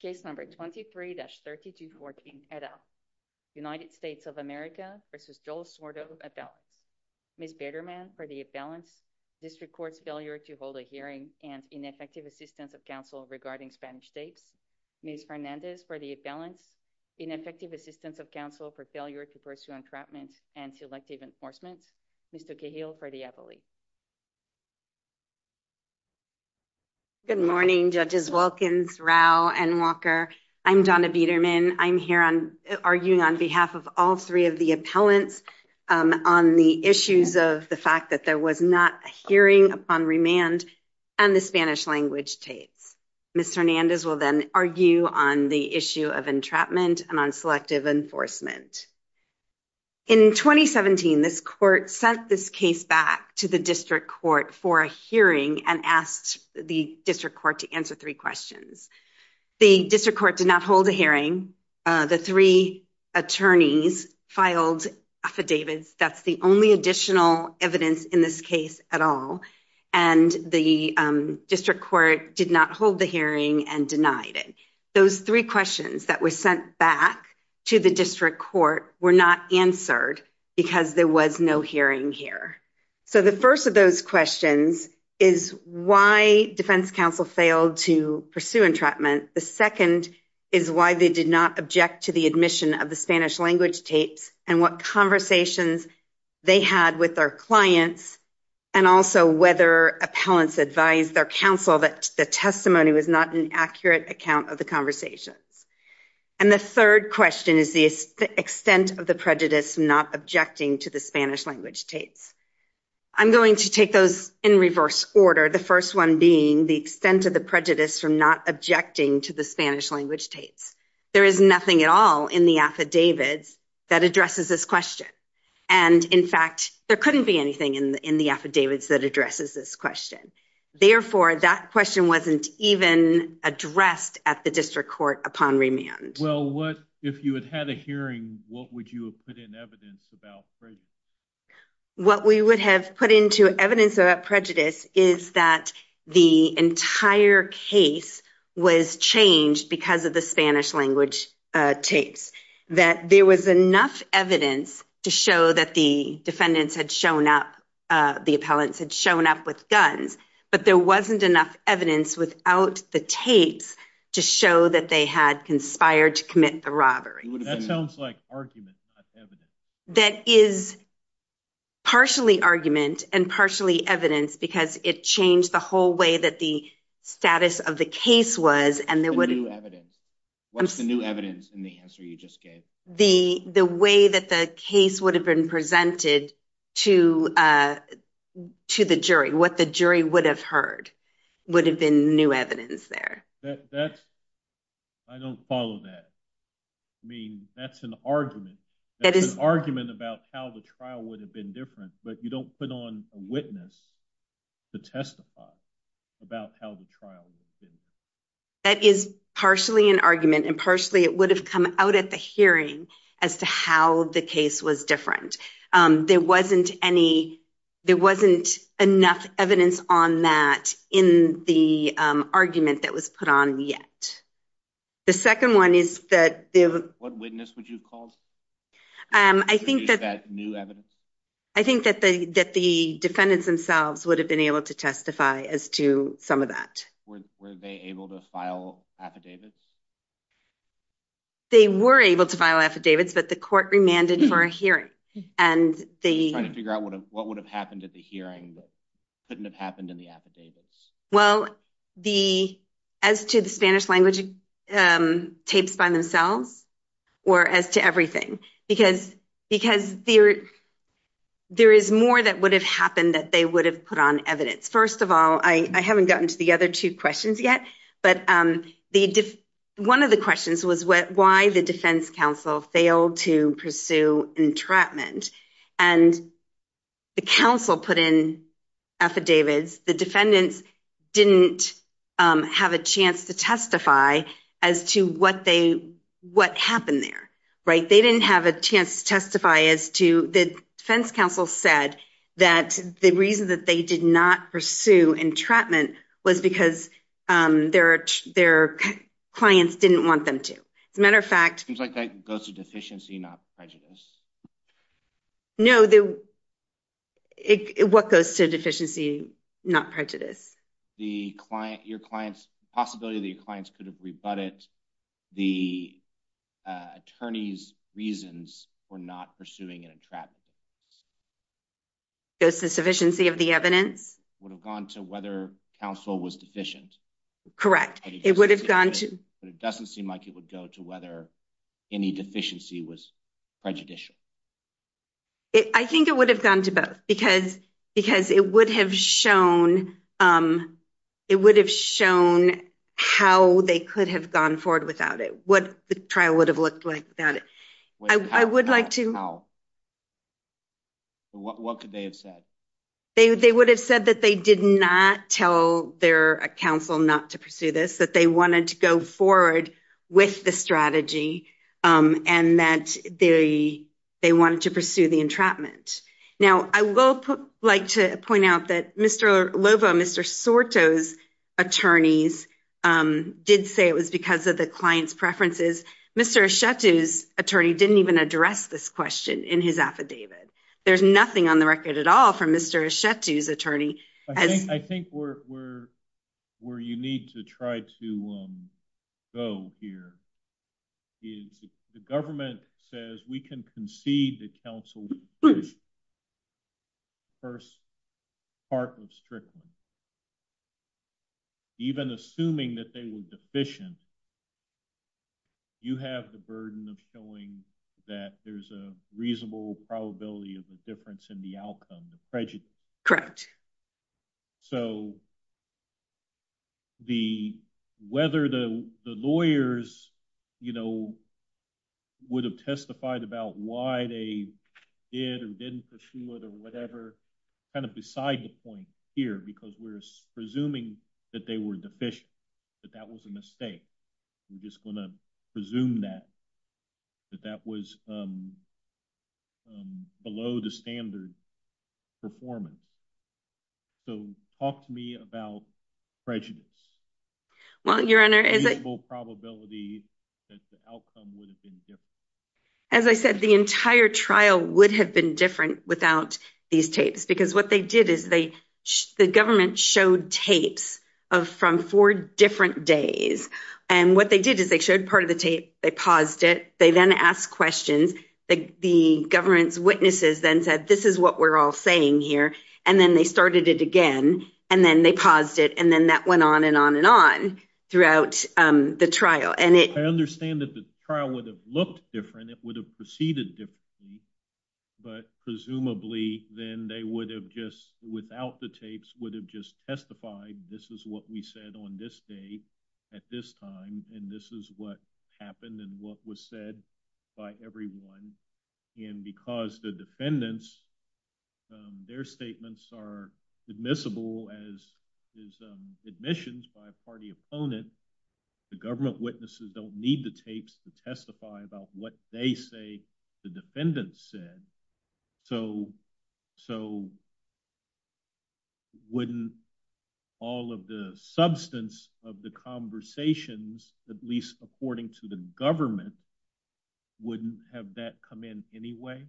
Cases 23-3214, et al. United States of America v. Joel Sorto, appellants. Ms. Biderman, for the appellants, District Court's failure to hold a hearing and ineffective assistance of counsel regarding Spanish tapes. Ms. Fernandez, for the appellants, ineffective assistance of counsel for failure to pursue entrapment and selective enforcement. Good morning, Judges Wilkins, Rau, and Walker. I'm Donna Biderman. I'm here on, arguing on behalf of all three of the appellants on the issues of the fact that there was not a hearing upon remand on the Spanish language tapes. Ms. Fernandez will then argue on the issue of entrapment and on selective enforcement. In 2017, this court sent this case back to the District Court for a hearing and asked the District Court to answer three questions. The District Court did not hold a hearing. The three attorneys filed affidavits. That's the only additional evidence in this case at all. And the District Court did not hold the hearing and denied it. Those three questions that were sent back to the District Court were not answered because there was no hearing here. So, the first of those questions is why defense counsel failed to pursue entrapment. The second is why they did not object to the admission of the Spanish language tapes and what conversations they had with their clients and also whether appellants advised their counsel that the testimony was not an accurate account of the conversations. And the third question is the extent of the prejudice not objecting to the Spanish language tapes. I'm going to take those in reverse order, the first one being the extent of the prejudice from not objecting to the Spanish language tapes. There is nothing at all in the affidavits that addresses this question. And in fact, there couldn't be anything in the affidavits that addresses this question. Therefore, that question wasn't even addressed at the District Court upon remand. Well, what if you had had a hearing, what would you have put in evidence about prejudice? What we would have put into evidence about prejudice is that the entire case was changed because of the Spanish language tapes. That there was enough evidence to show that the defendants had shown up, the appellants had shown up with guns, but there wasn't enough evidence without the tapes to show that they had conspired to commit the robbery. That sounds like argument, not evidence. That is partially argument and partially evidence because it changed the whole way that the status of the case was. What's the new evidence in the answer you just gave? The way that the case would have been presented to the jury, what the jury would have heard would have been new evidence there. I don't follow that. I mean, that's an argument. That is an argument about how the trial would have been different, but you don't put on a witness to testify about how the trial would have been. That is partially an argument and partially it would have come out at the hearing as to how the case was different. There wasn't enough evidence on that in the argument that was put on yet. The second one is that- What witness would you call? Is that new evidence? I think that the defendants themselves would have been able to testify as to some of that. Were they able to file affidavits? They were able to file affidavits, but the court remanded for a hearing. Trying to figure out what would have happened at the hearing that couldn't have happened in the affidavits. Well, as to the Spanish language tapes by themselves or as to everything, because there is more that would have happened that they would have put on evidence. First of all, I haven't gotten to the other two questions yet. One of the questions was why the defense counsel failed to pursue entrapment. The counsel put in affidavits. The defendants didn't have a chance to testify as to what happened there. They didn't have a chance to testify as to- was because their clients didn't want them to. As a matter of fact- It seems like that goes to deficiency, not prejudice. No. What goes to deficiency, not prejudice? Your client's possibility that your clients could have rebutted the attorney's reasons for not pursuing an entrapment. Goes to sufficiency of the evidence. Would have gone to whether counsel was deficient. Correct. It would have gone to- But it doesn't seem like it would go to whether any deficiency was prejudicial. I think it would have gone to both because it would have shown how they could have gone forward without it. What the trial would have looked like without it. I would like to- What could they have said? They would have said that they did not tell their counsel not to pursue this, that they wanted to go forward with the strategy, and that they wanted to pursue the entrapment. Now, I will like to point out that Mr. Lovo, Mr. Sorto's attorneys did say it was because of the client's preferences. Mr. Asciutto's attorney didn't even address this question in his affidavit. There's nothing on the record at all from Mr. Asciutto's attorney. I think where you need to try to go here is the government says we can concede that counsel first part of strictness. Even assuming that they were deficient, you have the burden of showing that there's a reasonable probability of a difference in the outcome, the prejudice. Correct. So, whether the lawyers would have testified about why they did or didn't pursue it or whatever, kind of beside the point here because we're presuming that they were deficient, that that was a mistake. We're just going to presume that that was below the standard performance. So, talk to me about prejudice. Well, Your Honor, as I said, the entire trial would have been different without these tapes because what they did is the government showed tapes from four different days and what they did is they showed part of the tape, they paused it, they then asked questions, the government's witnesses then said, this is what we're all saying here, and then they started it again and then they paused it and then that went on and on and on throughout the trial. I understand that the trial would have looked different, it would have proceeded differently, but presumably then they would have just, without the tapes, would have just testified, this is what we said on this day at this time and this is what happened and what was said by everyone. And because the defendants, their statements are admissible as admissions by a party opponent, the government witnesses don't need the tapes to testify about what they say the defendant said. So, wouldn't all of the substance of the conversations, at least according to the government, wouldn't have that come in any way?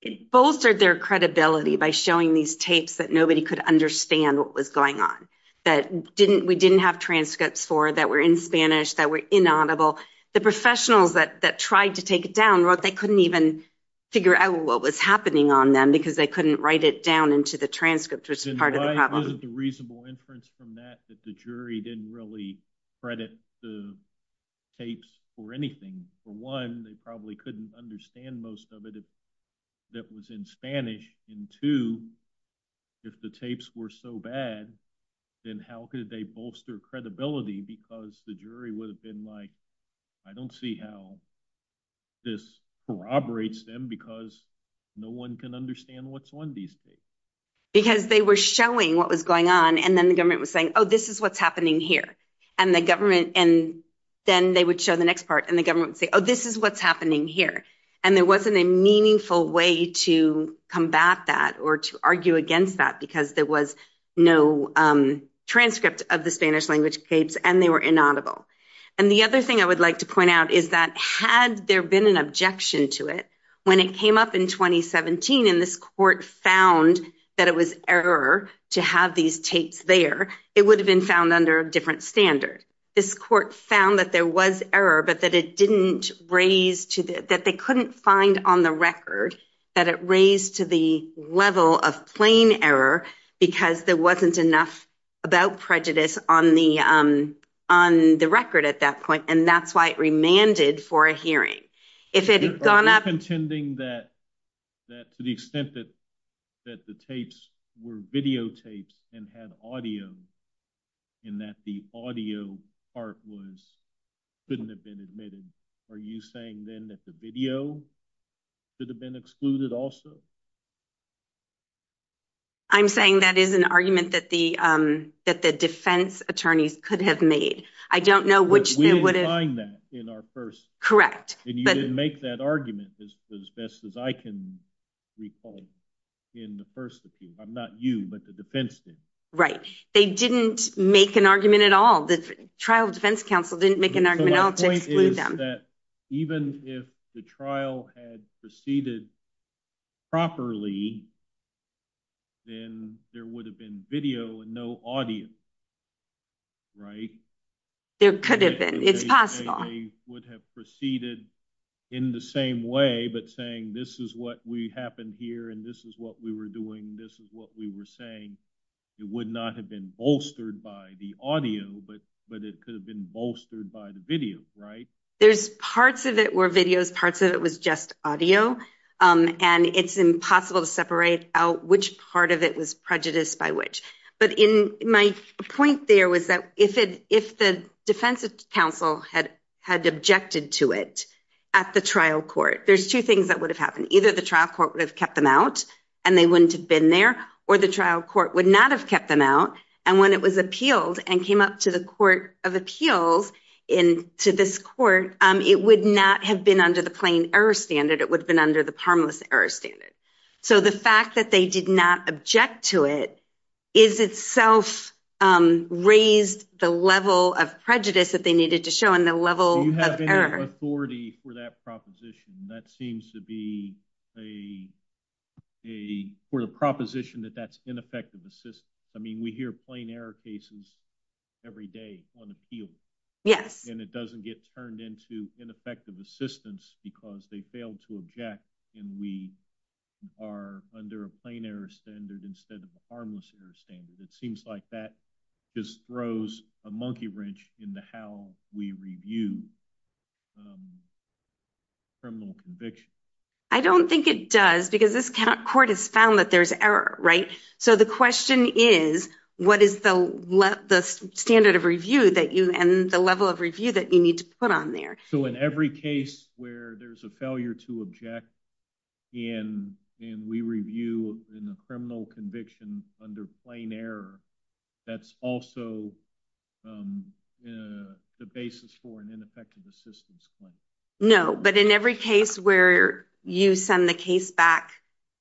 It bolstered their credibility by showing these tapes that nobody could understand what was going on, that we didn't have transcripts for that were in Spanish, that were inaudible. The professionals that tried to take it down wrote they couldn't even figure out what was happening on them because they couldn't write it down into the transcript, which is part of the problem. Isn't the reasonable inference from that that the jury didn't really credit the tapes for anything? For one, they probably couldn't understand most of it that was in Spanish, and two, if the tapes were so bad, then how could they bolster credibility because the jury would have been like, I don't see how this corroborates them because no one can understand what's on these tapes. Because they were showing what was going on, and then the government was saying, oh, this is what's happening here. And then they would show the next part and the government would say, oh, this is what's happening here. And there wasn't a meaningful way to combat that or to argue against that because there was no transcript of the Spanish language tapes and they were inaudible. And the other thing I would like to point out is that had there been an objection to it, when it came up in 2017 and this court found that it was error to have these tapes there, it would have been found under a different standard. This court found that there was error, but that it didn't raise to the, that they couldn't find on the record that it raised to the level of plain error because there wasn't enough about prejudice on the record at that point, and that's why it remanded for a hearing. If it had gone up... Are you contending that to the extent that the tapes were videotapes and had audio, and that the audio part couldn't have been admitted, are you saying then that the video could have been excluded also? I'm saying that is an argument that the defense attorneys could have made. I don't know which... We didn't find that in our first... Correct. And you didn't make that argument as best as I can recall in the first review. I'm not you, but the defense did. Right. They didn't make an argument at all. The trial defense counsel didn't make an argument at all to exclude them. Even if the trial had proceeded properly, then there would have been video and no audio, right? There could have been. It's possible. They would have proceeded in the same way, but saying, this is what happened here, and this is what we were doing. This is what we were saying. It would not have been bolstered by the audio, but it could have been bolstered by the video, right? There's parts of it were videos, parts of it was just audio, and it's impossible to separate out which part of it was prejudiced by which. But my point there was that if the defense counsel had objected to it at the trial court, there's two things that would have happened. Either the trial court would have kept them out and they wouldn't have been there, or the trial court would not have kept them out. And when it was appealed and came up to the court of appeals, to this court, it would not have been under the plain error standard. It would have been under the harmless error standard. So the fact that they did not object to it is itself raised the level of prejudice that they needed to show and the level of error. Do you have any authority for that proposition? That seems to be a proposition that that's ineffective assistance. I mean, we hear plain error cases every day on appeal. Yes. And it doesn't get turned into ineffective assistance because they failed to object and we are under a plain error standard instead of a harmless error standard. It seems like that just throws a monkey wrench into how we review criminal convictions. I don't think it does because this court has found that there's error, right? So the question is, what is the standard of review that you and the level of review that you need to put on there? So in every case where there's a failure to object and we review in a criminal conviction under plain error, that's also the basis for an ineffective assistance claim. No, but in every case where you send the case back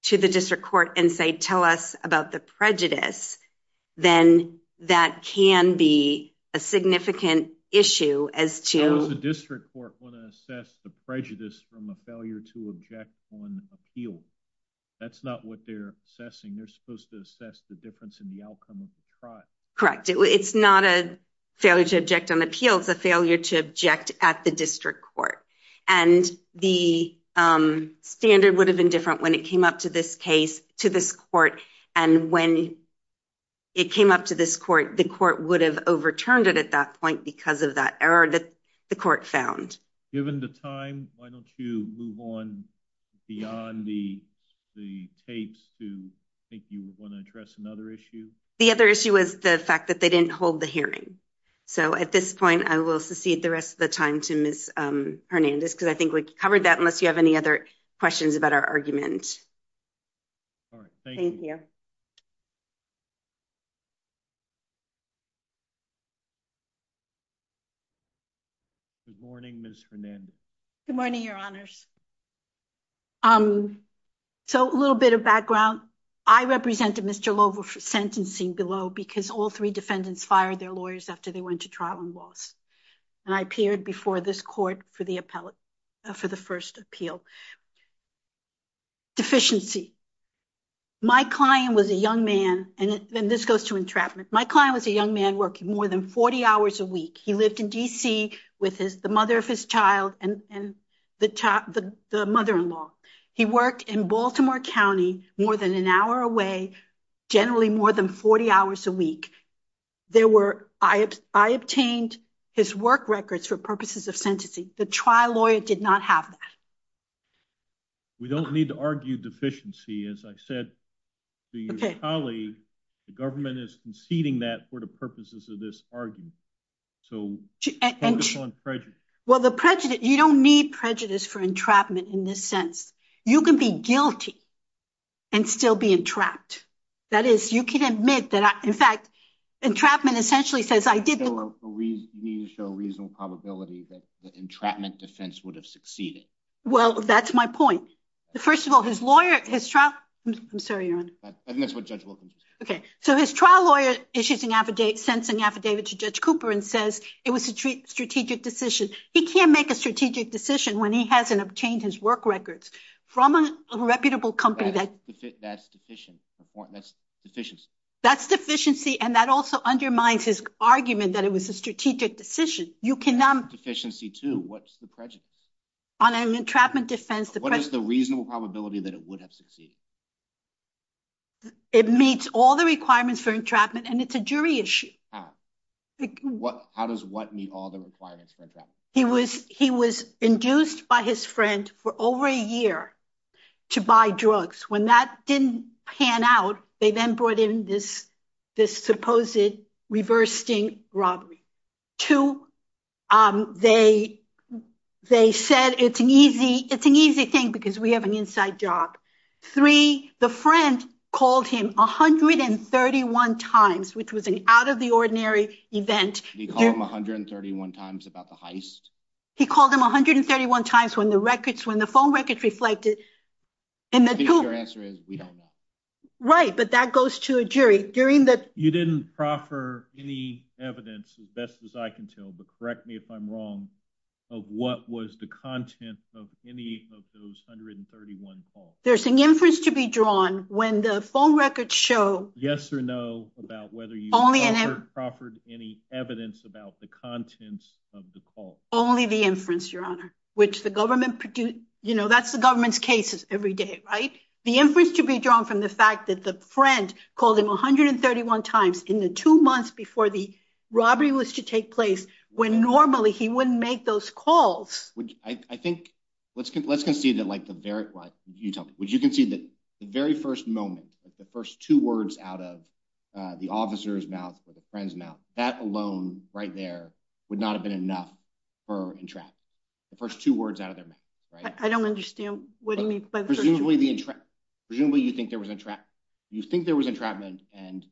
to the district court and say, tell us about the prejudice, then that can be a significant issue as to... How does the district court want to assess the prejudice from a failure to object on appeal? That's not what they're assessing. They're supposed to assess the difference in the outcome of the trial. Correct. It's not a failure to object on appeal. It's a failure to object at the district court. And the standard would have been different when it came up to this court. And when it came up to this court, the court would have overturned it at that point because of that error that the court found. Given the time, why don't you move on beyond the tapes to... I think you want to address another issue. The other issue was the fact that they didn't hold the hearing. So at this point, I will secede the rest of the time to Ms. Hernandez because I think we covered that unless you have any other questions about our argument. All right. Thank you. Good morning, Ms. Hernandez. Good morning, Your Honors. So a little bit of background. I represented Mr. Lova for sentencing below because all three defendants fired their lawyers after they went to trial and lost. And I appeared before this court for the first appeal. Deficiency. My client was a young man, and then this goes to entrapment. My client was a young man working more than 40 hours a week. He lived in D.C. with the mother of his child and the mother-in-law. He worked in Baltimore County, more than an hour away, generally more than 40 hours a week. I obtained his work records for purposes of sentencing. The trial lawyer did not have that. We don't need to argue deficiency. As I said to your colleague, the government is conceding that for the purposes of this argument. So focus on prejudice. Well, the prejudice, you don't need prejudice for entrapment in this sense. You can be guilty and still be entrapped. That is, you can admit that, in fact, entrapment essentially says, I didn't need to show a reasonable probability that the entrapment defense would have succeeded. Well, that's my point. First of all, his lawyer, his trial, I'm sorry, your honor. I think that's what Judge Wilkins was saying. Okay, so his trial lawyer issues an affidavit, sends an affidavit to Judge Cooper and says it was a strategic decision. He can't make a strategic decision when he hasn't obtained his work records from a reputable company. That's deficient. That's deficiency. That's deficiency, and that also undermines his argument that it was a strategic decision. You cannot. Deficiency too, what's the On an entrapment defense, what is the reasonable probability that it would have succeeded? It meets all the requirements for entrapment, and it's a jury issue. How does what meet all the requirements for entrapment? He was induced by his friend for over a year to buy drugs. When that didn't pan out, they then brought in this supposed reverse sting robbery. Two, they said it's an easy thing because we have an inside job. Three, the friend called him 131 times, which was an out-of-the-ordinary event. He called him 131 times about the heist? He called him 131 times when the phone records reflected. Your answer is we don't know. Right, but that goes to a jury. You didn't proffer any evidence, as best as I can tell, but correct me if I'm wrong, of what was the content of any of those 131 calls. There's an inference to be drawn when the phone records show. Yes or no about whether you proffered any evidence about the contents of the call. Only the inference, your honor, which the government produced. That's the government's cases every day, right? The inference to be drawn from the fact that the friend called him 131 times in the two months before the robbery was to take place, when normally he wouldn't make those calls. I think, let's concede that the very first moment, the first two words out of the officer's mouth or the friend's mouth, that alone right there would not have been enough for entrapment. The first two words out of their mouth, right? I don't understand what you mean. Presumably, you think there was entrapment and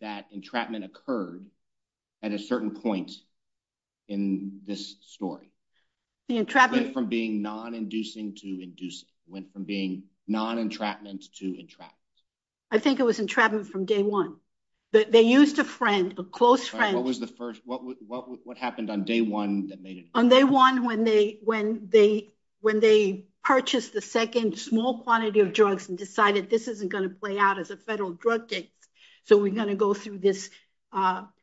that entrapment occurred at a certain point in this story. The entrapment- Went from being non-inducing to inducing, went from being non-entrapment to entrapment. I think it was entrapment from day one. They used a friend, a close friend- What was the first, what happened on day one that made it- On day one, when they purchased the second small quantity of drugs and decided this isn't going to play out as a federal drug case, so we're going to go through this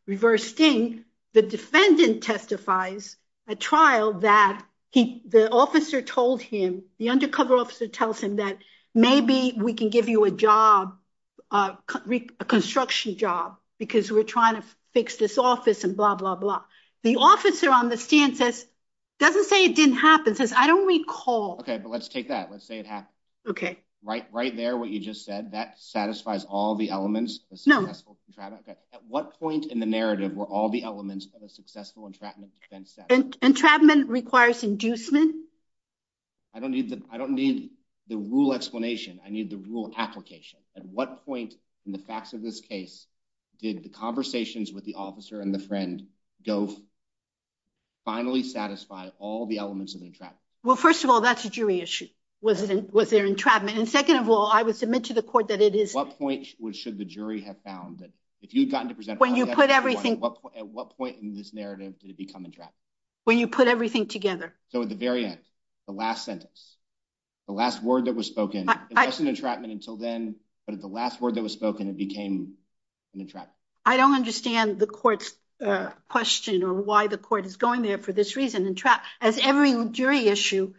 reverse sting, the defendant testifies at trial that the officer told him, the undercover officer tells him that maybe we can give you a job, a construction job, because we're trying to fix this office and blah, blah, blah. The officer on the stand says, doesn't say it didn't happen, says, I don't recall- Okay, but let's take that. Let's say it happened. Okay. Right there, what you just said, that satisfies all the elements of a successful entrapment. At what point in the narrative were all the elements of a successful entrapment defense set? Entrapment requires inducement. I don't need the rule explanation. I need the rule application. At what point in the facts of this case did the conversations with the officer and the friend go finally satisfy all the elements of the entrapment? Well, first of all, that's a jury issue. Was there entrapment? And second of all, I would submit to the court that it is- What point should the jury have found that if you'd gotten to present- When you put everything- At what point in this narrative did it become entrapment? When you put everything together. So at the very end, the last sentence, the last word that was spoken, it wasn't entrapment until then, but at the last word that was spoken, it became an entrapment. I don't understand the court's question or why the court is going there for this reason. As every jury issue,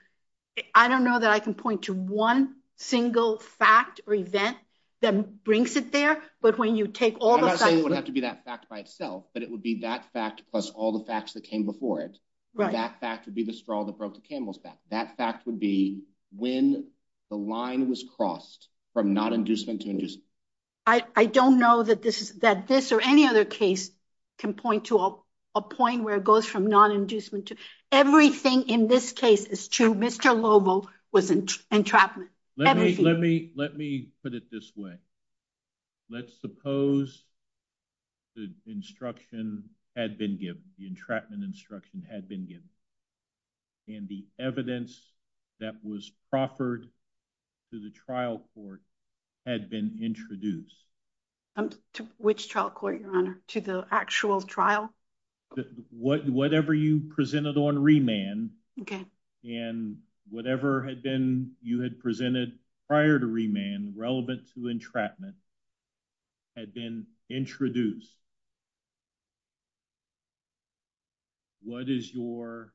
I don't know that I can point to one single fact or event that brings it there, but when you take all the facts- I'm not saying it would have to be that fact by itself, but it would be that fact plus all the facts that came before it. That fact would be the straw that broke the camel's back. That fact would be when the line was crossed from not inducement to inducement. I don't know that this or any other case can point to a point where it goes from non-inducement to- Everything in this case is true. Mr. Lobo was entrapment. Let me put it this way. Let's suppose the instruction had been given, the entrapment instruction had been given, and the evidence that was proffered to the trial court had been introduced. To which trial court, your honor? To the actual trial? Whatever you presented on remand, and whatever you had presented prior to remand relevant to entrapment had been introduced. What is your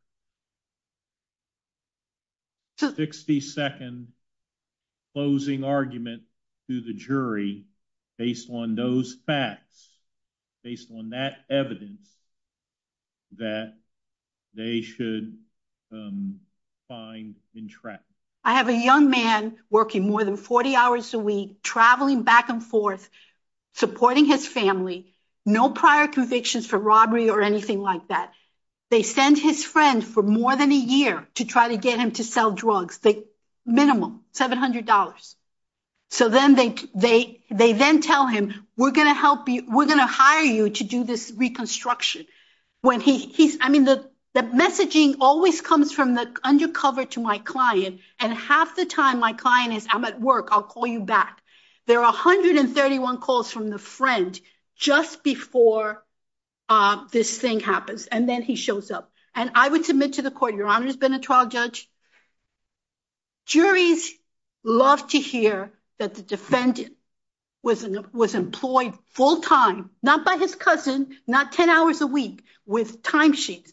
60-second closing argument to the jury based on those facts, based on that evidence, that they should find entrapment? I have a young man working more than 40 hours a week, traveling back and forth, supporting his family. No prior convictions for robbery or anything like that. They send his friend for more than a year to try to get him to sell drugs. Minimum, $700. They then tell him, we're going to hire you to do this reconstruction. The messaging always comes from the undercover to my client, and half the time my client is, I'm at work, I'll call you back. There are 131 calls from the friend just before this thing happens, and then he shows up. And I would submit to the court, your honor has been a trial judge. Juries love to hear that the defendant was employed full-time, not by his cousin, not 10 hours a week, with timesheets.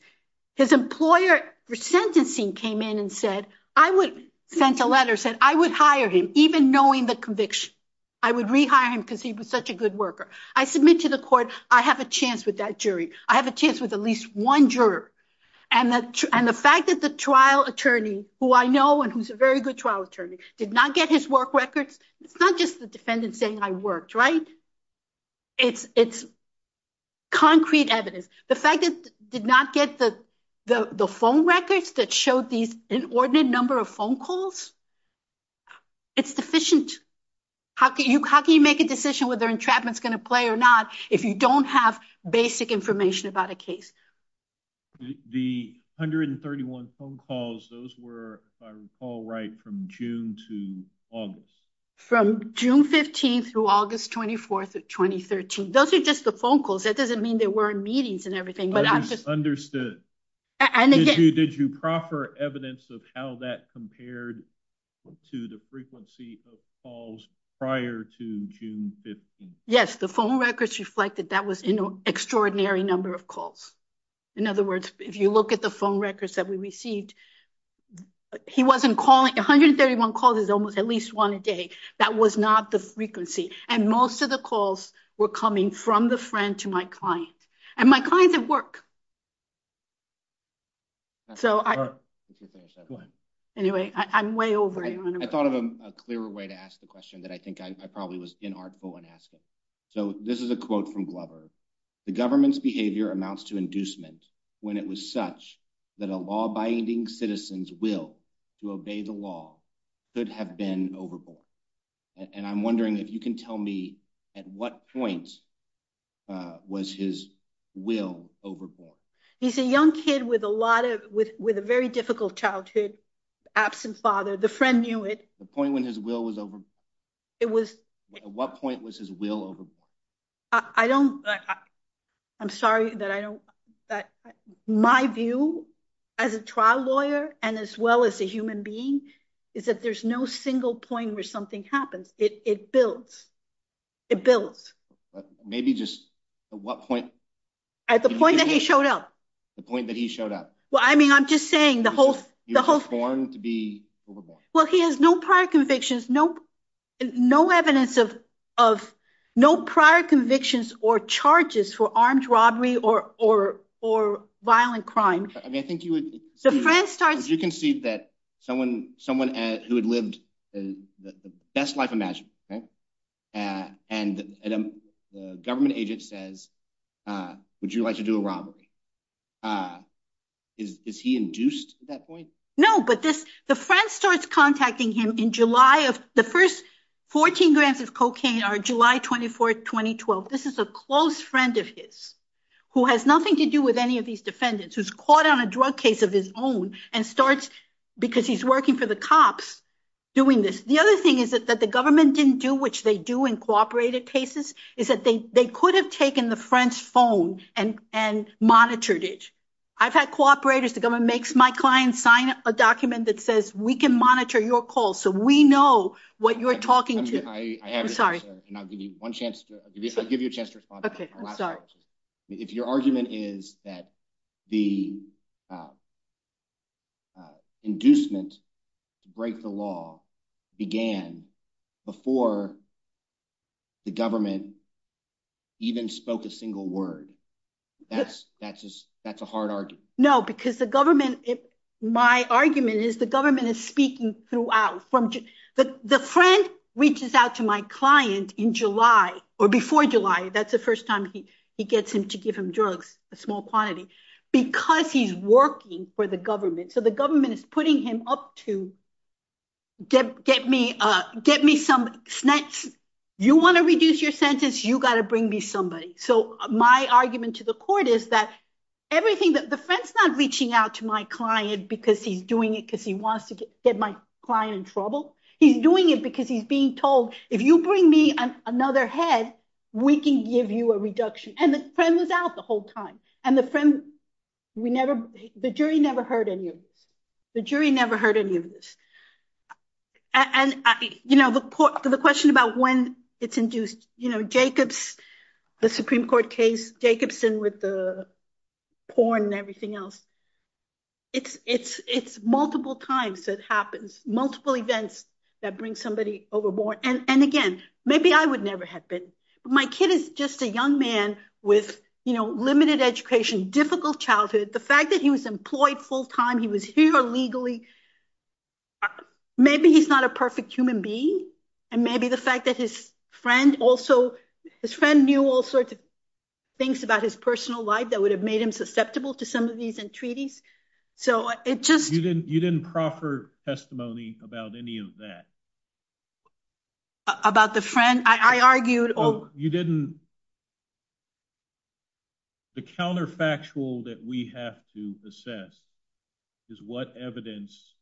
His employer for sentencing came in and sent a letter saying, I would hire him, even knowing the conviction. I would rehire him because he was such a good worker. I submit to the court, I have a chance with that jury. I have a chance with at least one juror. And the fact that the trial attorney, who I know and who's a very good trial attorney, did not get his work records, it's not just the defendant saying I worked, right? It's concrete evidence. The fact that he did not get the phone records that showed these inordinate number of phone calls, it's deficient. How can you make a decision whether entrapment's going to play or not if you don't have basic information about a case? The 131 phone calls, those were, if I recall right, from June to August. From June 15th through August 24th of 2013. Those are just the phone calls. That doesn't mean there weren't meetings and everything. I just understood. Did you proffer evidence of how that compared to the frequency of calls prior to June 15th? Yes, the phone records reflected that was an extraordinary number of calls. In other words, if you look at the phone records that we received, he wasn't calling, 131 calls is almost at least one a day. That was not the frequency. And most of the calls were coming from the friend to my client. And my clients at work. Anyway, I'm way over here. I thought of a clearer way to ask the question that I think I probably was inartful in asking. So this is a quote from Glover. The government's behavior amounts to inducement when it was such that a law-abiding citizen's will to obey the law could have been overborn. And I'm wondering if you can tell me at what point was his will overborn? He's a young kid with a lot of, with a very difficult childhood, absent father. The friend knew it. The point when his will was overborn? It was. What point was his will overborn? I don't, I'm sorry that I don't. My view as a trial lawyer, and as well as a human being, is that there's no single point where something happens. It builds. It builds. Maybe just at what point? At the point that he showed up. The point that he showed up. Well, I mean, I'm just saying the whole, the whole form to be overborn. Well, he has no prior convictions, no, no evidence of, of no prior convictions or charges for armed robbery or, or, or violent crime. I mean, I think you would, you can see that someone, someone who had lived the best life imaginable, right? And the government agent says, would you like to do a robbery? Is he induced at that point? No, but this, the friend starts contacting him in July of the first 14 grams of cocaine are July 24th, 2012. This is a close friend of his, who has nothing to do with any of these defendants, who's caught on a drug case of his own and starts, because he's working for the cops, doing this. The other thing is that the government didn't do, which they do in cooperative cases, is that they, they could have taken the friend's phone and, and monitored it. I've had cooperators, the government makes my client sign a document that says, we can monitor your call. So we know what you're talking to. And I'll give you one chance to give you a chance to respond. If your argument is that the. Inducement to break the law began before the government even spoke a single word. That's, that's, that's a hard argument. No, because the government, my argument is the government is speaking throughout from the friend reaches out to my client in July or before July. That's the first time he, he gets him to give him drugs, a small quantity, because he's working for the government. So the government is putting him up to get, get me, get me some snacks. You want to reduce your sentence? You got to bring me somebody. So my argument to the court is that everything that the friend's not reaching out to my client, because he's doing it because he wants to get my client in trouble. He's doing it because he's being told, if you bring me another head, we can give you a reduction. And the friend was out the whole time. And the friend, we never, the jury never heard any of this. The jury never heard any of this. And, you know, the question about when it's induced, you know, Jacobs, the Supreme Court case, Jacobson with the porn and everything else. It's, it's, it's multiple times that happens, multiple events that bring somebody overboard. And, and again, maybe I would never have been, but my kid is just a young man with, you know, limited education, difficult childhood. The fact that he was employed full time, he was here legally. Maybe he's not a perfect human being. And maybe the fact that his friend also, his friend knew all sorts of things about his personal life that would have made him susceptible to some of these entreaties. So it just. You didn't, you didn't proffer testimony about any of that. About the friend, I argued. Oh, you didn't. The counterfactual that we have to assess is what evidence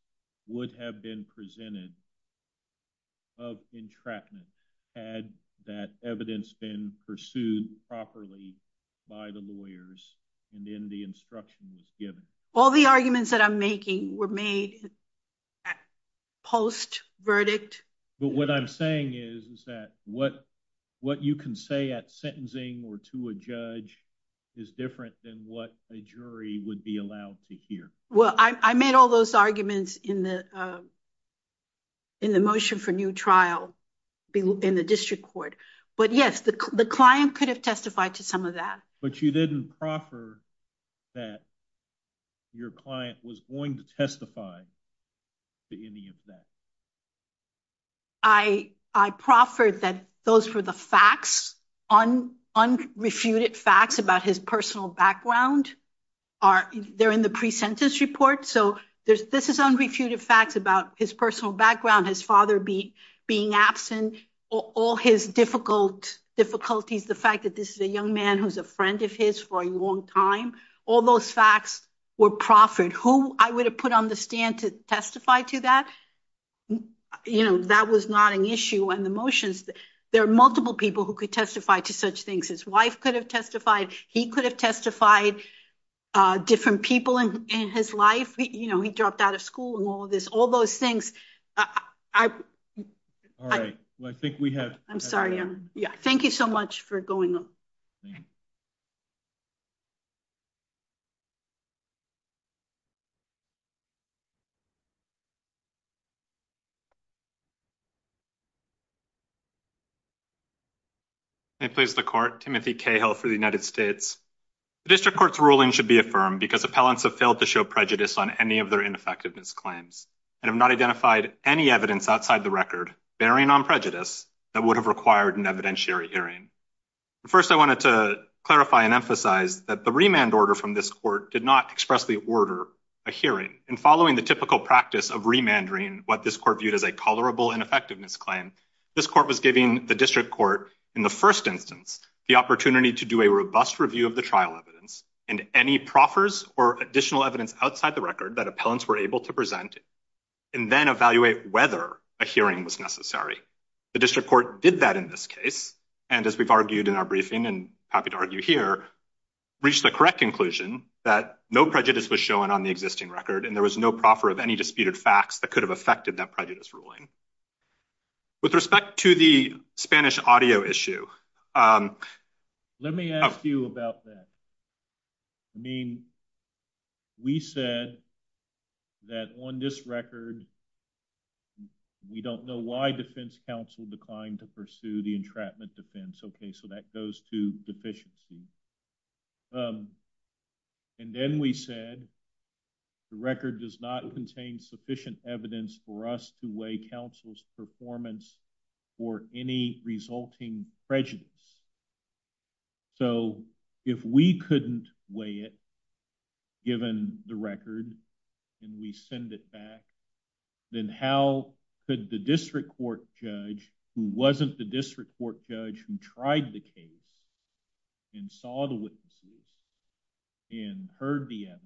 would have been presented of entrapment had that evidence been pursued properly by the lawyers. And then the instruction was given. All the arguments that I'm making were made post verdict. But what I'm saying is, is that what, what you can say at sentencing or to a judge is different than what a jury would be allowed to hear. Well, I made all those arguments in the, in the motion for new trial in the district court. But yes, the client could have testified to some of that. But you didn't proffer that your client was going to testify to any of that. I, I proffered that those were the facts, unrefuted facts about his personal background. Are there in the pre-sentence report? So there's, this is unrefuted facts about his personal background, his father being, being absent, all his difficult difficulties. The fact that this is a young man who's a friend of his for a long time. All those facts were proffered who I would have put on the stand to testify to that. You know, that was not an issue. And the motions, there are multiple people who could testify to such things. His wife could have testified. He could have testified different people in his life. You know, he dropped out of school and all of this, all those things. All right. Well, I think we have. Yeah. Thank you so much for going on. Okay. I please the court, Timothy Cahill for the United States. The district court's ruling should be affirmed because appellants have failed to show prejudice on any of their ineffectiveness claims and have not identified any evidence outside the record bearing on prejudice that would have required an evidentiary hearing. First, I wanted to clarify and emphasize that the remand order from this court did not express the order, a hearing and following the typical practice of remandering what this court viewed as a colorable ineffectiveness claim. This court was giving the district court in the first instance, the opportunity to do a robust review of the trial evidence and any proffers or additional evidence outside the record that appellants were able to present and then evaluate whether a hearing was necessary. The district court did that in this case. And as we've argued in our briefing and happy to argue here, reached the correct conclusion that no prejudice was shown on the existing record and there was no proffer of any disputed facts that could have affected that prejudice ruling. With respect to the Spanish audio issue. Let me ask you about that. I mean, we said that on this record, we don't know why defense counsel declined to pursue the entrapment defense. Okay, so that goes to deficiency. And then we said the record does not contain sufficient evidence for us to weigh counsel's performance for any resulting prejudice. So if we couldn't weigh it, given the record and we send it back, then how could the district court judge who wasn't the district court judge who tried the case and saw the witnesses and heard the evidence,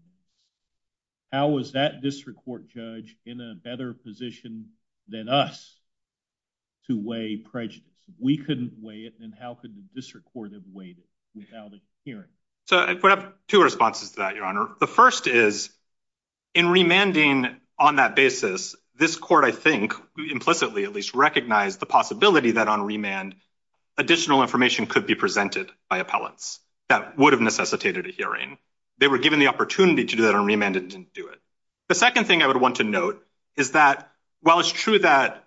how was that district court judge in a better position than us to weigh prejudice? We couldn't weigh it. And how could the district court have weighed it without a hearing? So I have two responses to that, Your Honor. The first is in remanding on that basis, this court, I think implicitly, at least recognize the possibility that on remand, additional information could be presented by appellants that would have necessitated a hearing. They were given the opportunity to do that on remand and didn't do it. The second thing I would want to note is that while it's true that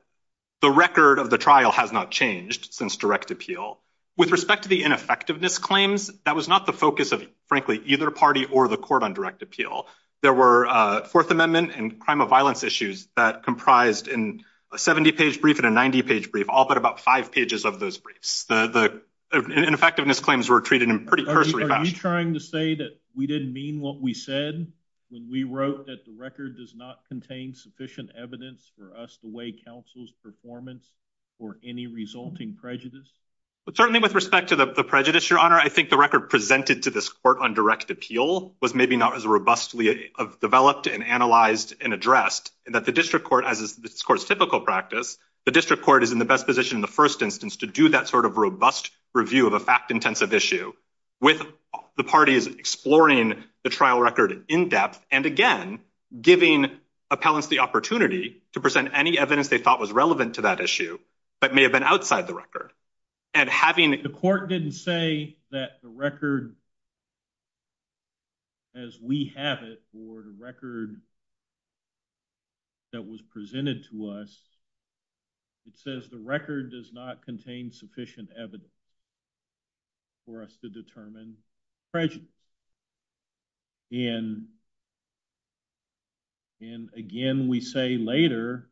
the record of the trial has not changed since direct appeal, with respect to the ineffectiveness claims, that was not the focus of, frankly, either party or the court on direct appeal. There were Fourth Amendment and crime of violence issues that comprised in a 70-page brief and a 90-page brief, all but about five pages of those briefs. The ineffectiveness claims were treated in pretty cursory fashion. Are you trying to say that we didn't mean what we said when we wrote that the record does not contain sufficient evidence for us to weigh counsel's performance or any resulting prejudice? But certainly with respect to the prejudice, Your Honor, I think the record presented to this court on direct appeal was maybe not as robustly developed and analyzed and addressed, and that the district court, as is this court's typical practice, the district court is in the best position in the first instance to do that sort of robust review of a fact-intensive issue with the parties exploring the trial record in depth and, again, giving appellants the opportunity to present any evidence they thought was relevant to that issue, but may have been outside the record. And having— The court didn't say that the record, as we have it, or the record that was presented to us, it says the record does not contain sufficient evidence for us to determine prejudice. And, again, we say later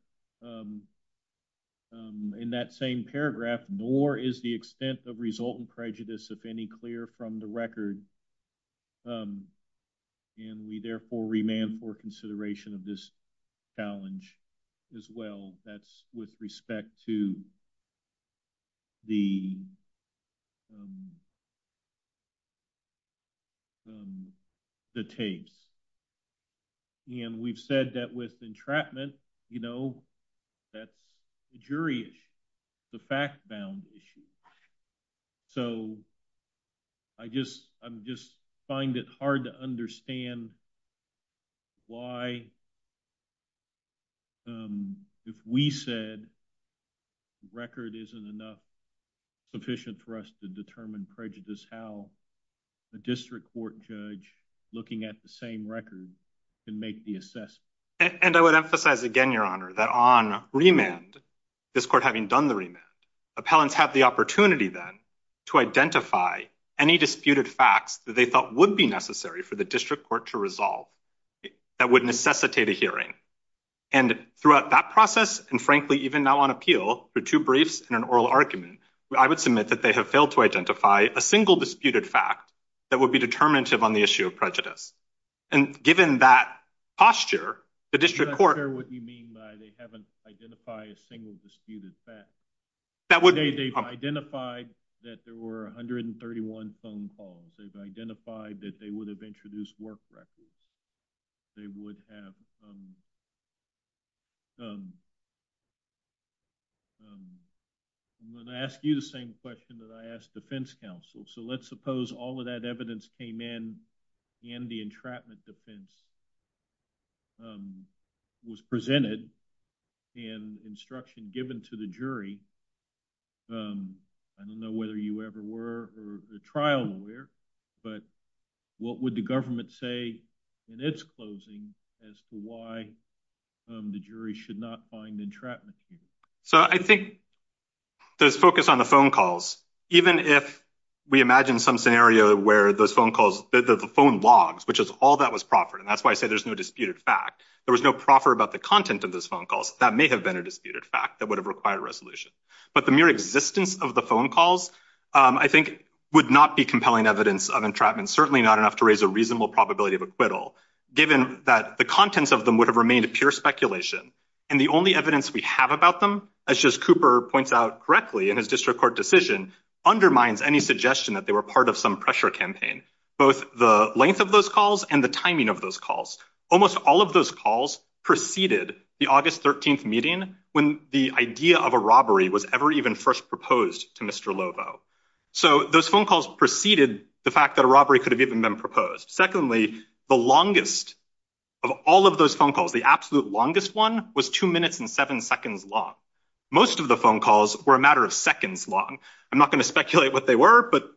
in that same paragraph, nor is the extent of resultant prejudice, if any, clear from the record. And we therefore remand for consideration of this challenge as well. That's with respect to the tapes. And we've said that with entrapment, you know, that's a jury issue, the fact-bound issue. So I just find it hard to understand why, if we said record isn't enough, sufficient for us to determine prejudice, how a district court judge looking at the same record can make the assessment. And I would emphasize again, Your Honor, that on remand, this court having done the remand, appellants have the opportunity then to identify any disputed facts that they thought would be necessary for the district court to resolve that would necessitate a hearing. And throughout that process, and frankly, even now on appeal, for two briefs and an oral argument, I would submit that they have failed to identify a single disputed fact that would be determinative on the issue of prejudice. And given that posture, the district court— I'm not sure what you mean by they haven't identified a single disputed fact. They've identified that there were 131 phone calls. They've identified that they would have introduced work records. They would have—I'm going to ask you the same question that I asked defense counsel. So let's suppose all of that evidence came in and the entrapment defense was presented and instruction given to the jury. I don't know whether you ever were a trial lawyer, but what would the government say in its closing as to why the jury should not find entrapment? So I think there's focus on the phone calls, even if we imagine some scenario where those phone logs, which is all that was proffered. And that's why I say there's no disputed fact. There was no proffer about the content of those phone calls. That may have been a disputed fact that would have required resolution. But the mere existence of the phone calls, I think, would not be compelling evidence of entrapment, certainly not enough to raise a reasonable probability of acquittal, given that the contents of them would have remained a pure speculation. And the only evidence we have about them, as Justice Cooper points out correctly in his district court decision, undermines any suggestion that they were part of some campaign, both the length of those calls and the timing of those calls. Almost all of those calls preceded the August 13th meeting, when the idea of a robbery was ever even first proposed to Mr. Lovo. So those phone calls preceded the fact that a robbery could have even been proposed. Secondly, the longest of all of those phone calls, the absolute longest one, was two minutes and seven seconds long. Most of the phone calls were a matter of seconds long. I'm not going to speculate what they were, but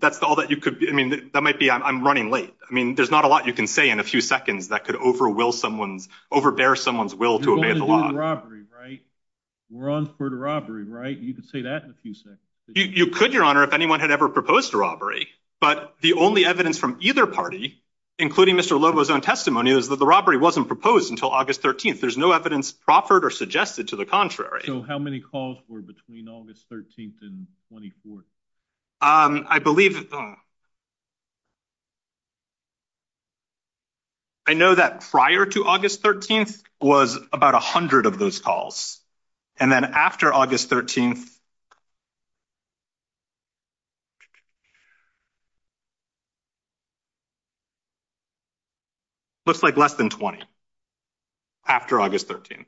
that's all that you could—I mean, that might be—I'm running late. I mean, there's not a lot you can say in a few seconds that could overwhelm someone's— overbear someone's will to obey the law. You're going to do the robbery, right? We're on for the robbery, right? You can say that in a few seconds. You could, Your Honor, if anyone had ever proposed a robbery. But the only evidence from either party, including Mr. Lovo's own testimony, is that the robbery wasn't proposed until August 13th. There's no evidence proffered or suggested to the contrary. So how many calls were between August 13th and 24th? I believe—I know that prior to August 13th was about 100 of those calls. And then after August 13th, looks like less than 20 after August 13th.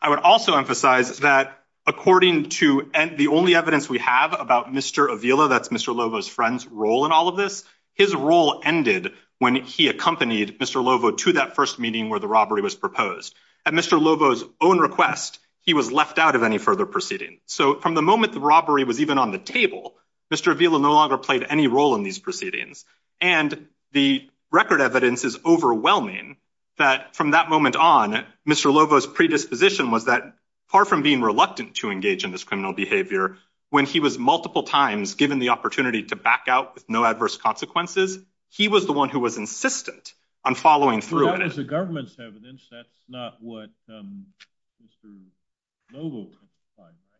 I would also emphasize that according to the only evidence we have about Mr. Avila—that's Mr. Lovo's friend's role in all of this—his role ended when he accompanied Mr. Lovo to that first meeting where the robbery was proposed. At Mr. Lovo's own request, he was left out of any further proceedings. So from the moment the robbery was even on the table, Mr. Avila no longer played any role in these proceedings. And the record evidence is overwhelming that from that moment on, Mr. Lovo's predisposition was that, far from being reluctant to engage in this criminal behavior, when he was multiple times given the opportunity to back out with no adverse consequences, he was the one who was insistent on following through. But that is the government's evidence. That's not what Mr. Lovo testified to.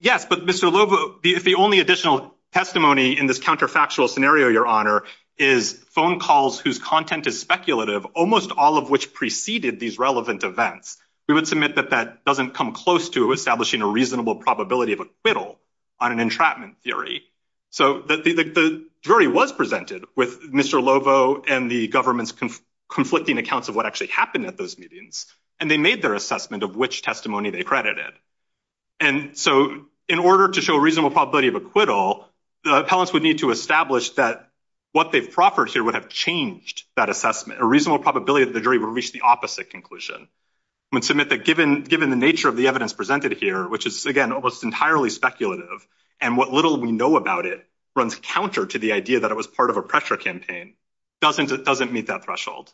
Yes, but Mr. Lovo—the only additional testimony in this counterfactual scenario, Your Honor, is phone calls whose content is speculative, almost all of which preceded these relevant events. We would submit that that doesn't come close to establishing a reasonable probability of acquittal on an entrapment theory. So the jury was presented with Mr. Lovo and the government's conflicting accounts of what actually happened at those meetings, and they made their assessment of which testimony they credited. And so, in order to show a reasonable probability of acquittal, the appellants would need to establish that what they've proffered here would have changed that assessment, a reasonable probability that the jury would reach the opposite conclusion. We would submit that given the nature of the evidence presented here, which is, again, almost entirely speculative, and what little we know about it runs counter to the idea that it was part of a pressure campaign, it doesn't meet that threshold.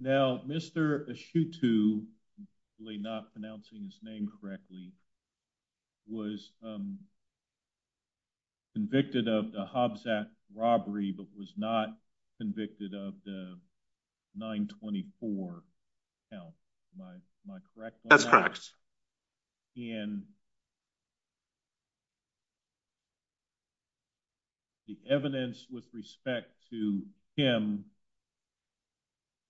Now, Mr. Ashutu—I'm really not pronouncing his name correctly—was convicted of the Hobbs Act robbery, but was not convicted of the 924 count. Am I correct on that? That's correct. And the evidence with respect to him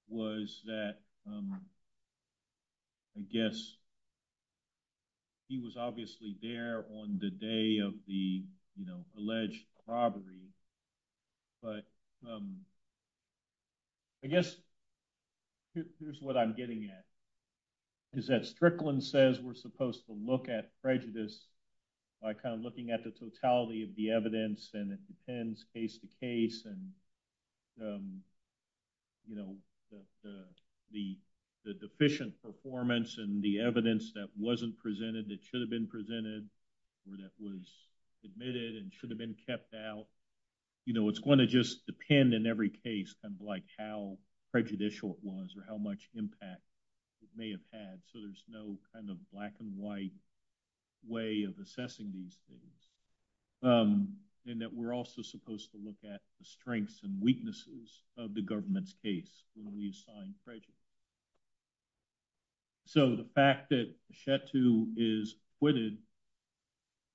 was that, I guess, he was obviously there on the day of the, you know, alleged robbery. But I guess here's what I'm getting at, is that Strickland says we're supposed to look at prejudice by kind of looking at the totality of the evidence, and it depends case to case, and, you know, the deficient performance and the evidence that wasn't presented that should have been presented or that was admitted and should have been kept out, you know, it's going to just depend in every case on, like, how prejudicial it was or how much impact it may have had, so there's no kind of black-and-white way of assessing these things, and that we're also supposed to look at the strengths and weaknesses of the government's case when we assign prejudice. So, the fact that Chetou is acquitted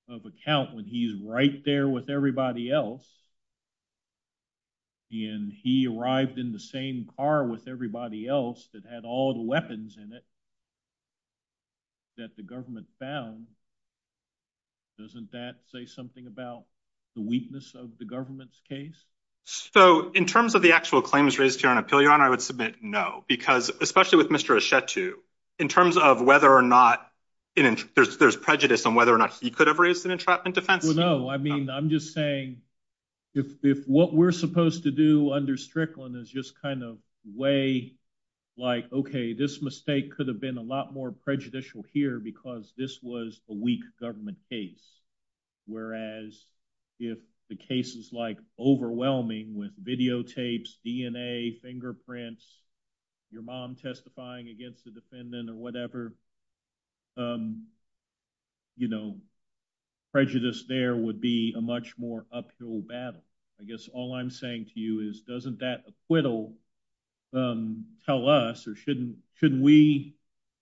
of a count when he's right there with everybody else, and he arrived in the same car with everybody else that had all the weapons in it that the government found, doesn't that say something about the weakness of the government's case? So, in terms of the actual claims raised here on Appeal, Your Honor, I would submit no, because, especially with Mr. Chetou, in terms of whether or not there's prejudice on whether or not he could have raised an entrapment defense. Well, no, I mean, I'm just saying, if what we're supposed to do under Strickland is just kind of weigh, like, okay, this mistake could have been a lot more prejudicial here because this was a weak government case, whereas if the case is, like, overwhelming with videotapes, DNA, fingerprints, your mom testifying against the defendant or whatever, you know, prejudice there would be a much more uphill battle. I guess all I'm saying to you is, doesn't that acquittal tell us, or shouldn't we,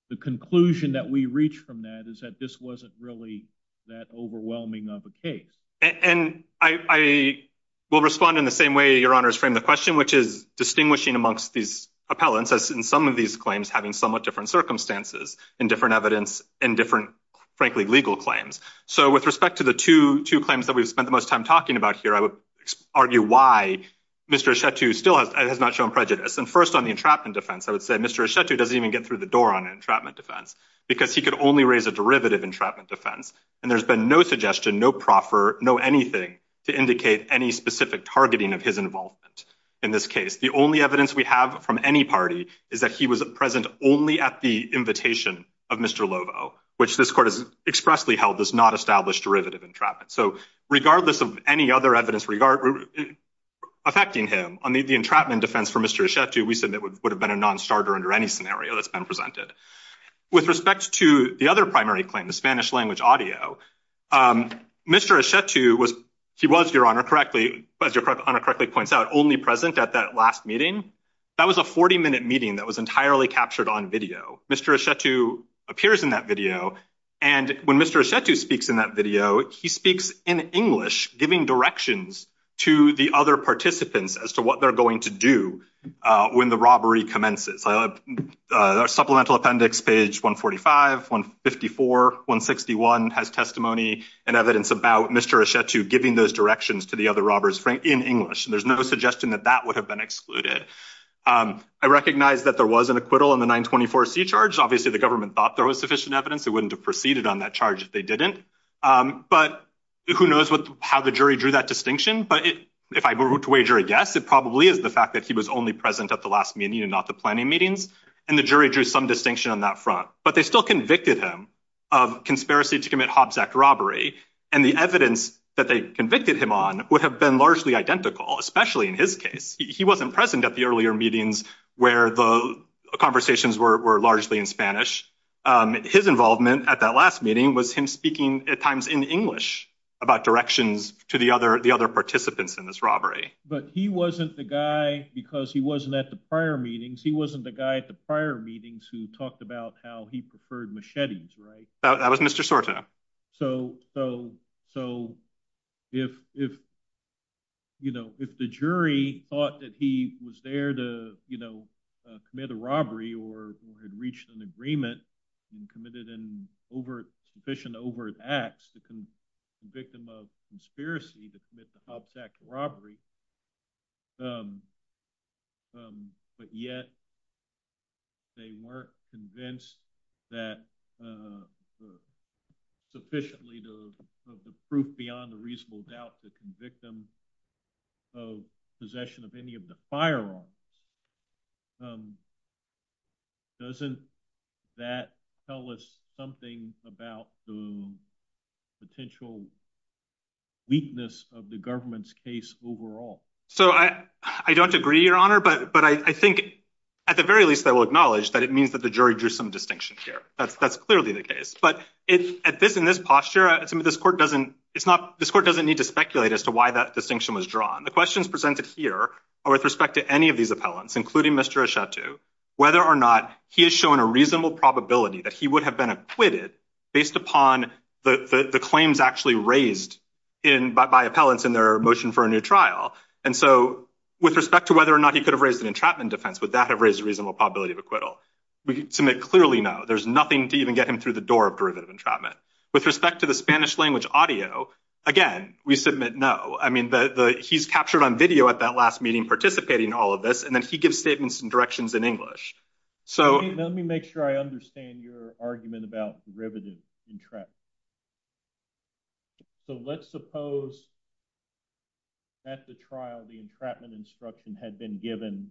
the conclusion that we reach from that is that this wasn't really that overwhelming of a case? And I will respond in the same way Your Honor has framed the question, which is distinguishing amongst these appellants, as in some of these claims, having somewhat different circumstances and different evidence and different, frankly, legal claims. So, with respect to the two claims that we've spent the most time talking about here, I would argue why Mr. Chetou still has not shown prejudice. And first, on the entrapment defense, I would say Mr. Chetou doesn't even get through the door on an entrapment defense because he could only raise a derivative entrapment defense, and there's been no suggestion, no proffer, no anything to indicate any specific targeting of his involvement in this case. The only evidence we have from any party is that he was present only at the invitation of Mr. Lovo, which this court has expressly held does not establish derivative entrapment. So, regardless of any other evidence affecting him, on the entrapment defense for Mr. Chetou, we said that would have been a non-starter under any scenario that's been presented. With respect to the other primary claim, the Spanish language audio, Mr. Chetou, he was, Your Honor, correctly, as Your Honor correctly points out, only present at that last meeting. That was a 40-minute meeting that was entirely captured on video. Mr. Chetou appears in that video, and when Mr. Chetou speaks in that video, he speaks in English, giving directions to the other participants as to what they're going to do when the robbery commences. Supplemental appendix, page 145, 154, 161, has testimony and evidence about Mr. Chetou giving those directions to the other robbers in English. There's no suggestion that that would have been excluded. I recognize that there was an acquittal on the 924C charge. Obviously, the government thought there was sufficient evidence. It wouldn't have proceeded on that charge if they didn't. But who knows how the jury drew that distinction, but if I were to wager a guess, it probably is the fact that he was only present at the last meeting and not the planning meetings, and the jury drew some distinction on that front. But they still convicted him of conspiracy to commit Hobbs Act robbery, and the evidence that they convicted him on would have been largely identical, especially in his case. He wasn't present at the earlier meetings where the conversations were largely in Spanish. His involvement at that last meeting was him speaking at times in English about directions to the other participants in this robbery. But he wasn't the guy, because he wasn't at the prior meetings, he wasn't the guy at the prior meetings who talked about how he preferred machetes, right? That was Mr. Soto. So if the jury thought that he was there to commit a robbery or had reached an agreement and committed an overt, sufficient overt acts to convict him of conspiracy to commit the Hobbs Act robbery, but yet they weren't convinced that sufficiently of the proof beyond a reasonable doubt to convict him of possession of any of the firearms, doesn't that tell us something about the potential weakness of the government's case overall? So I don't agree, Your Honor, but I think, at the very least, I will acknowledge that it means that the jury drew some distinction here. That's clearly the case. But in this posture, this court doesn't need to speculate as to why that distinction was The questions presented here are with respect to any of these appellants, including Mr. whether or not he has shown a reasonable probability that he would have been acquitted based upon the claims actually raised by appellants in their motion for a new trial. And so with respect to whether or not he could have raised an entrapment defense, would that have raised a reasonable probability of acquittal? We submit clearly no. There's nothing to even get him through the door of derivative entrapment. With respect to the Spanish language audio, again, we submit no. I mean, he's captured on video at that last meeting participating in all of this, and then he gives statements and directions in English. So let me make sure I understand your argument about derivative entrapment. So let's suppose at the trial, the entrapment instruction had been given,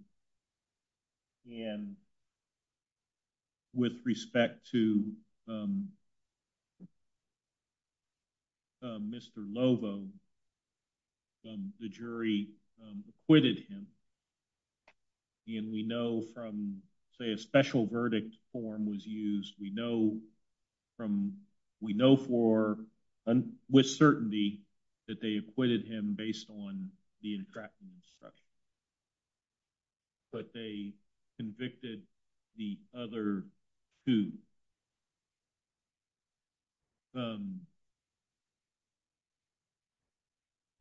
and with respect to Mr. Lovo, the jury acquitted him. And we know from, say, a special verdict form was used, we know from, we know for, with certainty, that they acquitted him based on the entrapment instruction. But they convicted the other two.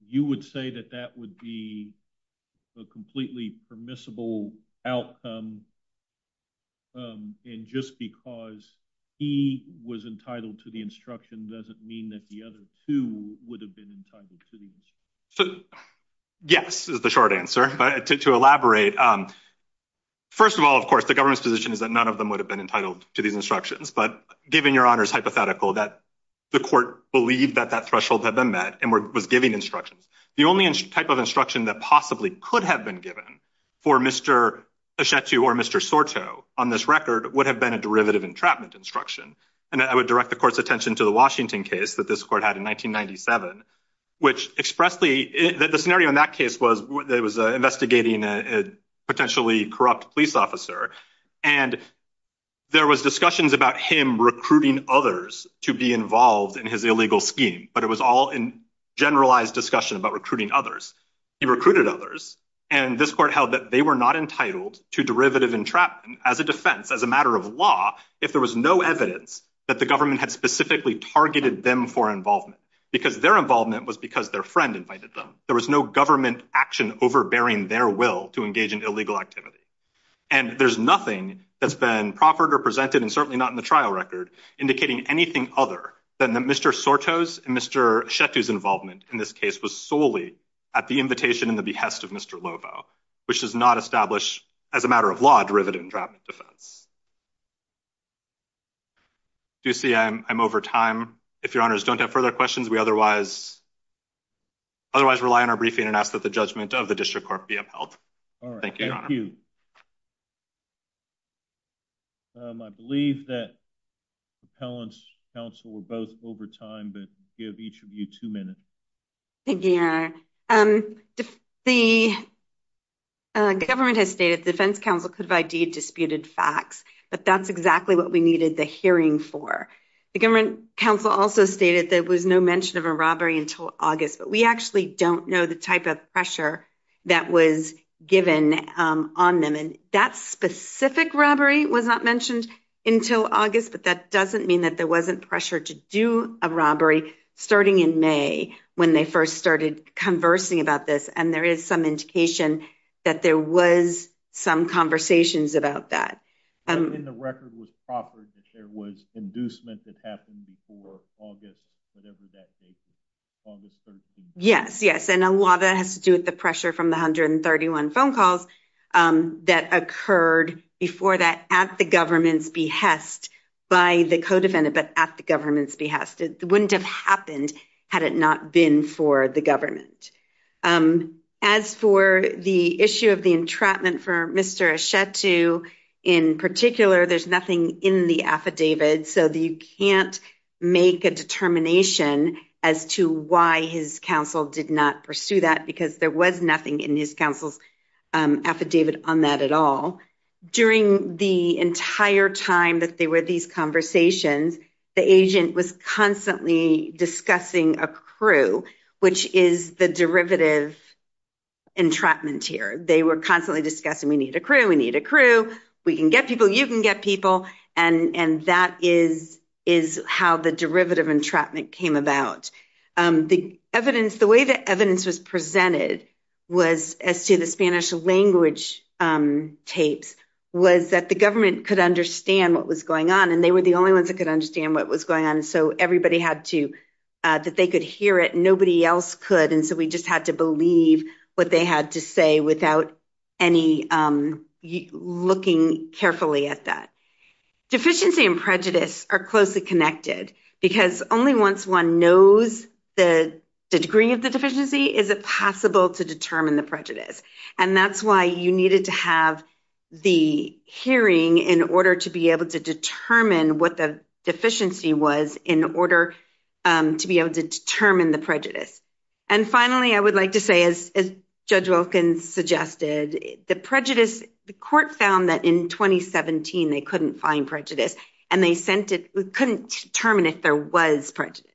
You would say that that would be a completely permissible outcome, and just because he was entitled to the instruction doesn't mean that the other two would have been entitled to the instruction. So yes is the short answer. But to elaborate, first of all, of course, the government's position is that none of them would have been entitled to these instructions. But given your Honor's hypothetical that the court believed that that threshold had been met and was giving instructions, the only type of instruction that possibly could have been given for Mr. Achetu or Mr. Soto on this record would have been a derivative entrapment instruction. And I would direct the court's attention to the Washington case that this court had in 1997, which expressly, the scenario in that case was they was investigating a potentially corrupt police officer. And there was discussions about him recruiting others to be involved in his illegal scheme. But it was all in generalized discussion about recruiting others. He recruited others. And this court held that they were not entitled to derivative entrapment as a defense, as a matter of law, if there was no evidence that the government had specifically targeted them for involvement. Because their involvement was because their friend invited them. There was no government action overbearing their will to engage in illegal activity. And there's nothing that's been proffered or presented, and certainly not in the trial record, indicating anything other than that Mr. Soto's and Mr. Achetu's involvement in this case was solely at the invitation and the behest of Mr. Lovo, which does not establish, as a matter of law, derivative entrapment defense. Do you see I'm over time? If your honors don't have further questions, we otherwise rely on our briefing and ask that the judgment of the district court be upheld. All right. Thank you. I believe that appellants, counsel, were both over time, but give each of you two minutes. Thank you, your honor. The government has stated the defense counsel could have ID'd disputed facts, but that's exactly what we needed the hearing for. The government counsel also stated there was no mention of a robbery until August, but we actually don't know the type of pressure that was given on them. And that specific robbery was not mentioned until August, but that doesn't mean that there wasn't pressure to do a robbery starting in May when they first started conversing about this. And there is some indication that there was some conversations about that. And the record was proper that there was inducement that happened before August, whatever that date was, August 13th. Yes, yes. And a lot of that has to do with the pressure from the 131 phone calls that occurred before that at the government's behest by the co-defendant, but at the government's behest. It wouldn't have happened had it not been for the government. As for the issue of the entrapment for Mr. Ashetu in particular, there's nothing in the affidavit. So you can't make a determination as to why his counsel did not pursue that because there was nothing in his counsel's affidavit on that at all. During the entire time that there were these conversations, the agent was constantly discussing a crew, which is the derivative entrapment here. They were constantly discussing, we need a crew. We need a crew. We can get people. You can get people. And that is how the derivative entrapment came about. The evidence, the way the evidence was presented was as to the Spanish language tapes was that the government could understand what was going on and they were the only ones that could understand what was going on. So everybody had to, that they could hear it. Nobody else could. And so we just had to believe what they had to say without any looking carefully at that. Deficiency and prejudice are closely connected because only once one knows the degree of the deficiency is it possible to determine the prejudice. And that's why you needed to have the hearing in order to be able to determine what the deficiency was in order to be able to determine the prejudice. And finally, I would like to say, as Judge Wilkins suggested, the prejudice, the court found that in 2017, they couldn't find prejudice and they sent it, couldn't determine if there was prejudice.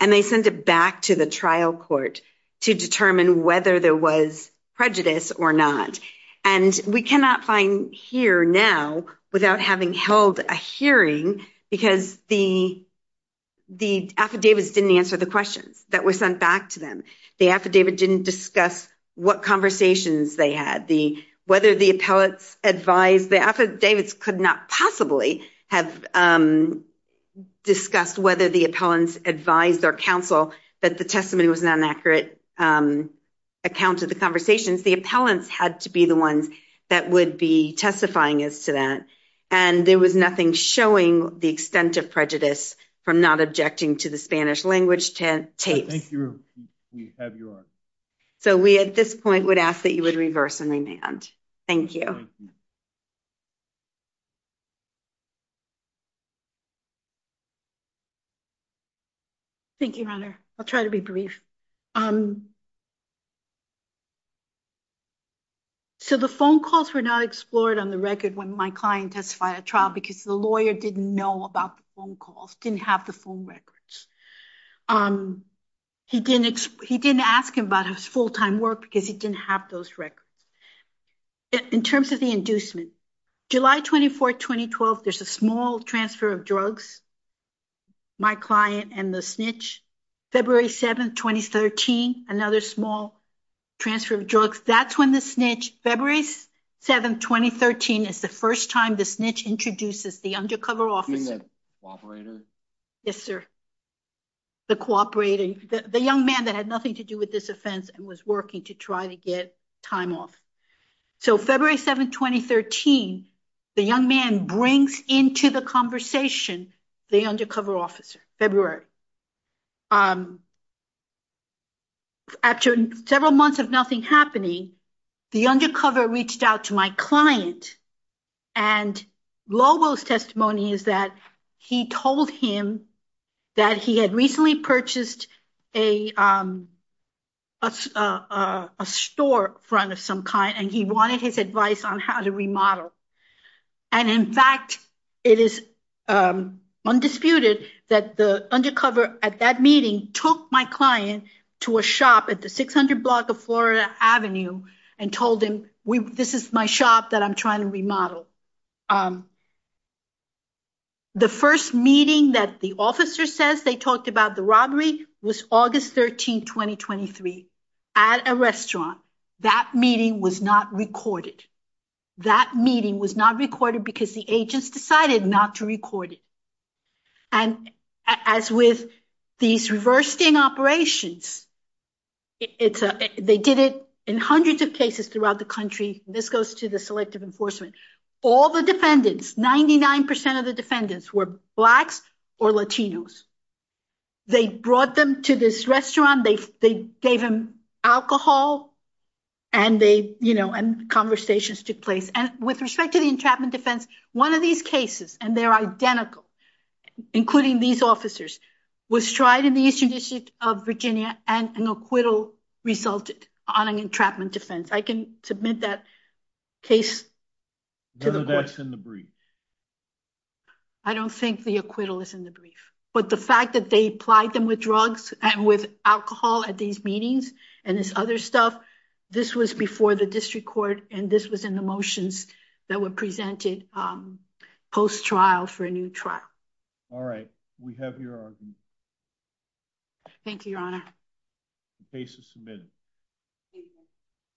And they sent it back to the trial court to determine whether there was prejudice or not. And we cannot find here now without having held a hearing because the affidavits didn't answer the questions that were sent back to them. The affidavit didn't discuss what conversations they had, whether the appellants advised, the affidavits could not possibly have discussed whether the appellants advised their counsel that the testimony was an inaccurate account of the conversations. The appellants had to be the ones that would be testifying as to that. And there was nothing showing the extent of prejudice from not objecting to the Spanish language tapes. Thank you. So we at this point would ask that you would reverse and remand. Thank you. Thank you, Your Honor. I'll try to be brief. So the phone calls were not explored on the record when my client testified at trial because the lawyer didn't know about the phone calls, didn't have the phone records. He didn't ask him about his full-time work because he didn't have those records. In terms of the inducement, July 24, 2012, there's a small transfer of drugs, my client and the snitch. February 7, 2013, another small transfer of drugs. That's when the snitch, February 7, 2013, is the first time the snitch introduces the undercover officer. You mean the cooperator? Yes, sir. The cooperator, the young man that had nothing to do with this offense and was working to try to get time off. So February 7, 2013, the young man brings into the conversation the undercover officer, February. After several months of nothing happening, the undercover reached out to my client. And Lobo's testimony is that he told him that he had recently purchased a store front of some kind, and he wanted his advice on how to remodel. And in fact, it is undisputed that the undercover at that meeting took my client to a shop at the 600 block of Florida Avenue and told him, this is my shop that I'm trying to remodel. The first meeting that the officer says they talked about the robbery was August 13, 2023, at a restaurant. That meeting was not recorded. That meeting was not recorded because the agents decided not to record it. And as with these reversing operations, they did it in hundreds of cases throughout the This goes to the Selective Enforcement. All the defendants, 99% of the defendants were Blacks or Latinos. They brought them to this restaurant. They gave him alcohol, and conversations took place. And with respect to the entrapment defense, one of these cases, and they're identical, including these officers, was tried in the Eastern District of Virginia, and an acquittal resulted on an entrapment defense. I can submit that case. No, that's in the brief. I don't think the acquittal is in the brief. But the fact that they plied them with drugs and with alcohol at these meetings, and this other stuff, this was before the district court, and this was in the motions that were presented post-trial for a new trial. All right. We have your argument. Thank you, Your Honor. The case is submitted.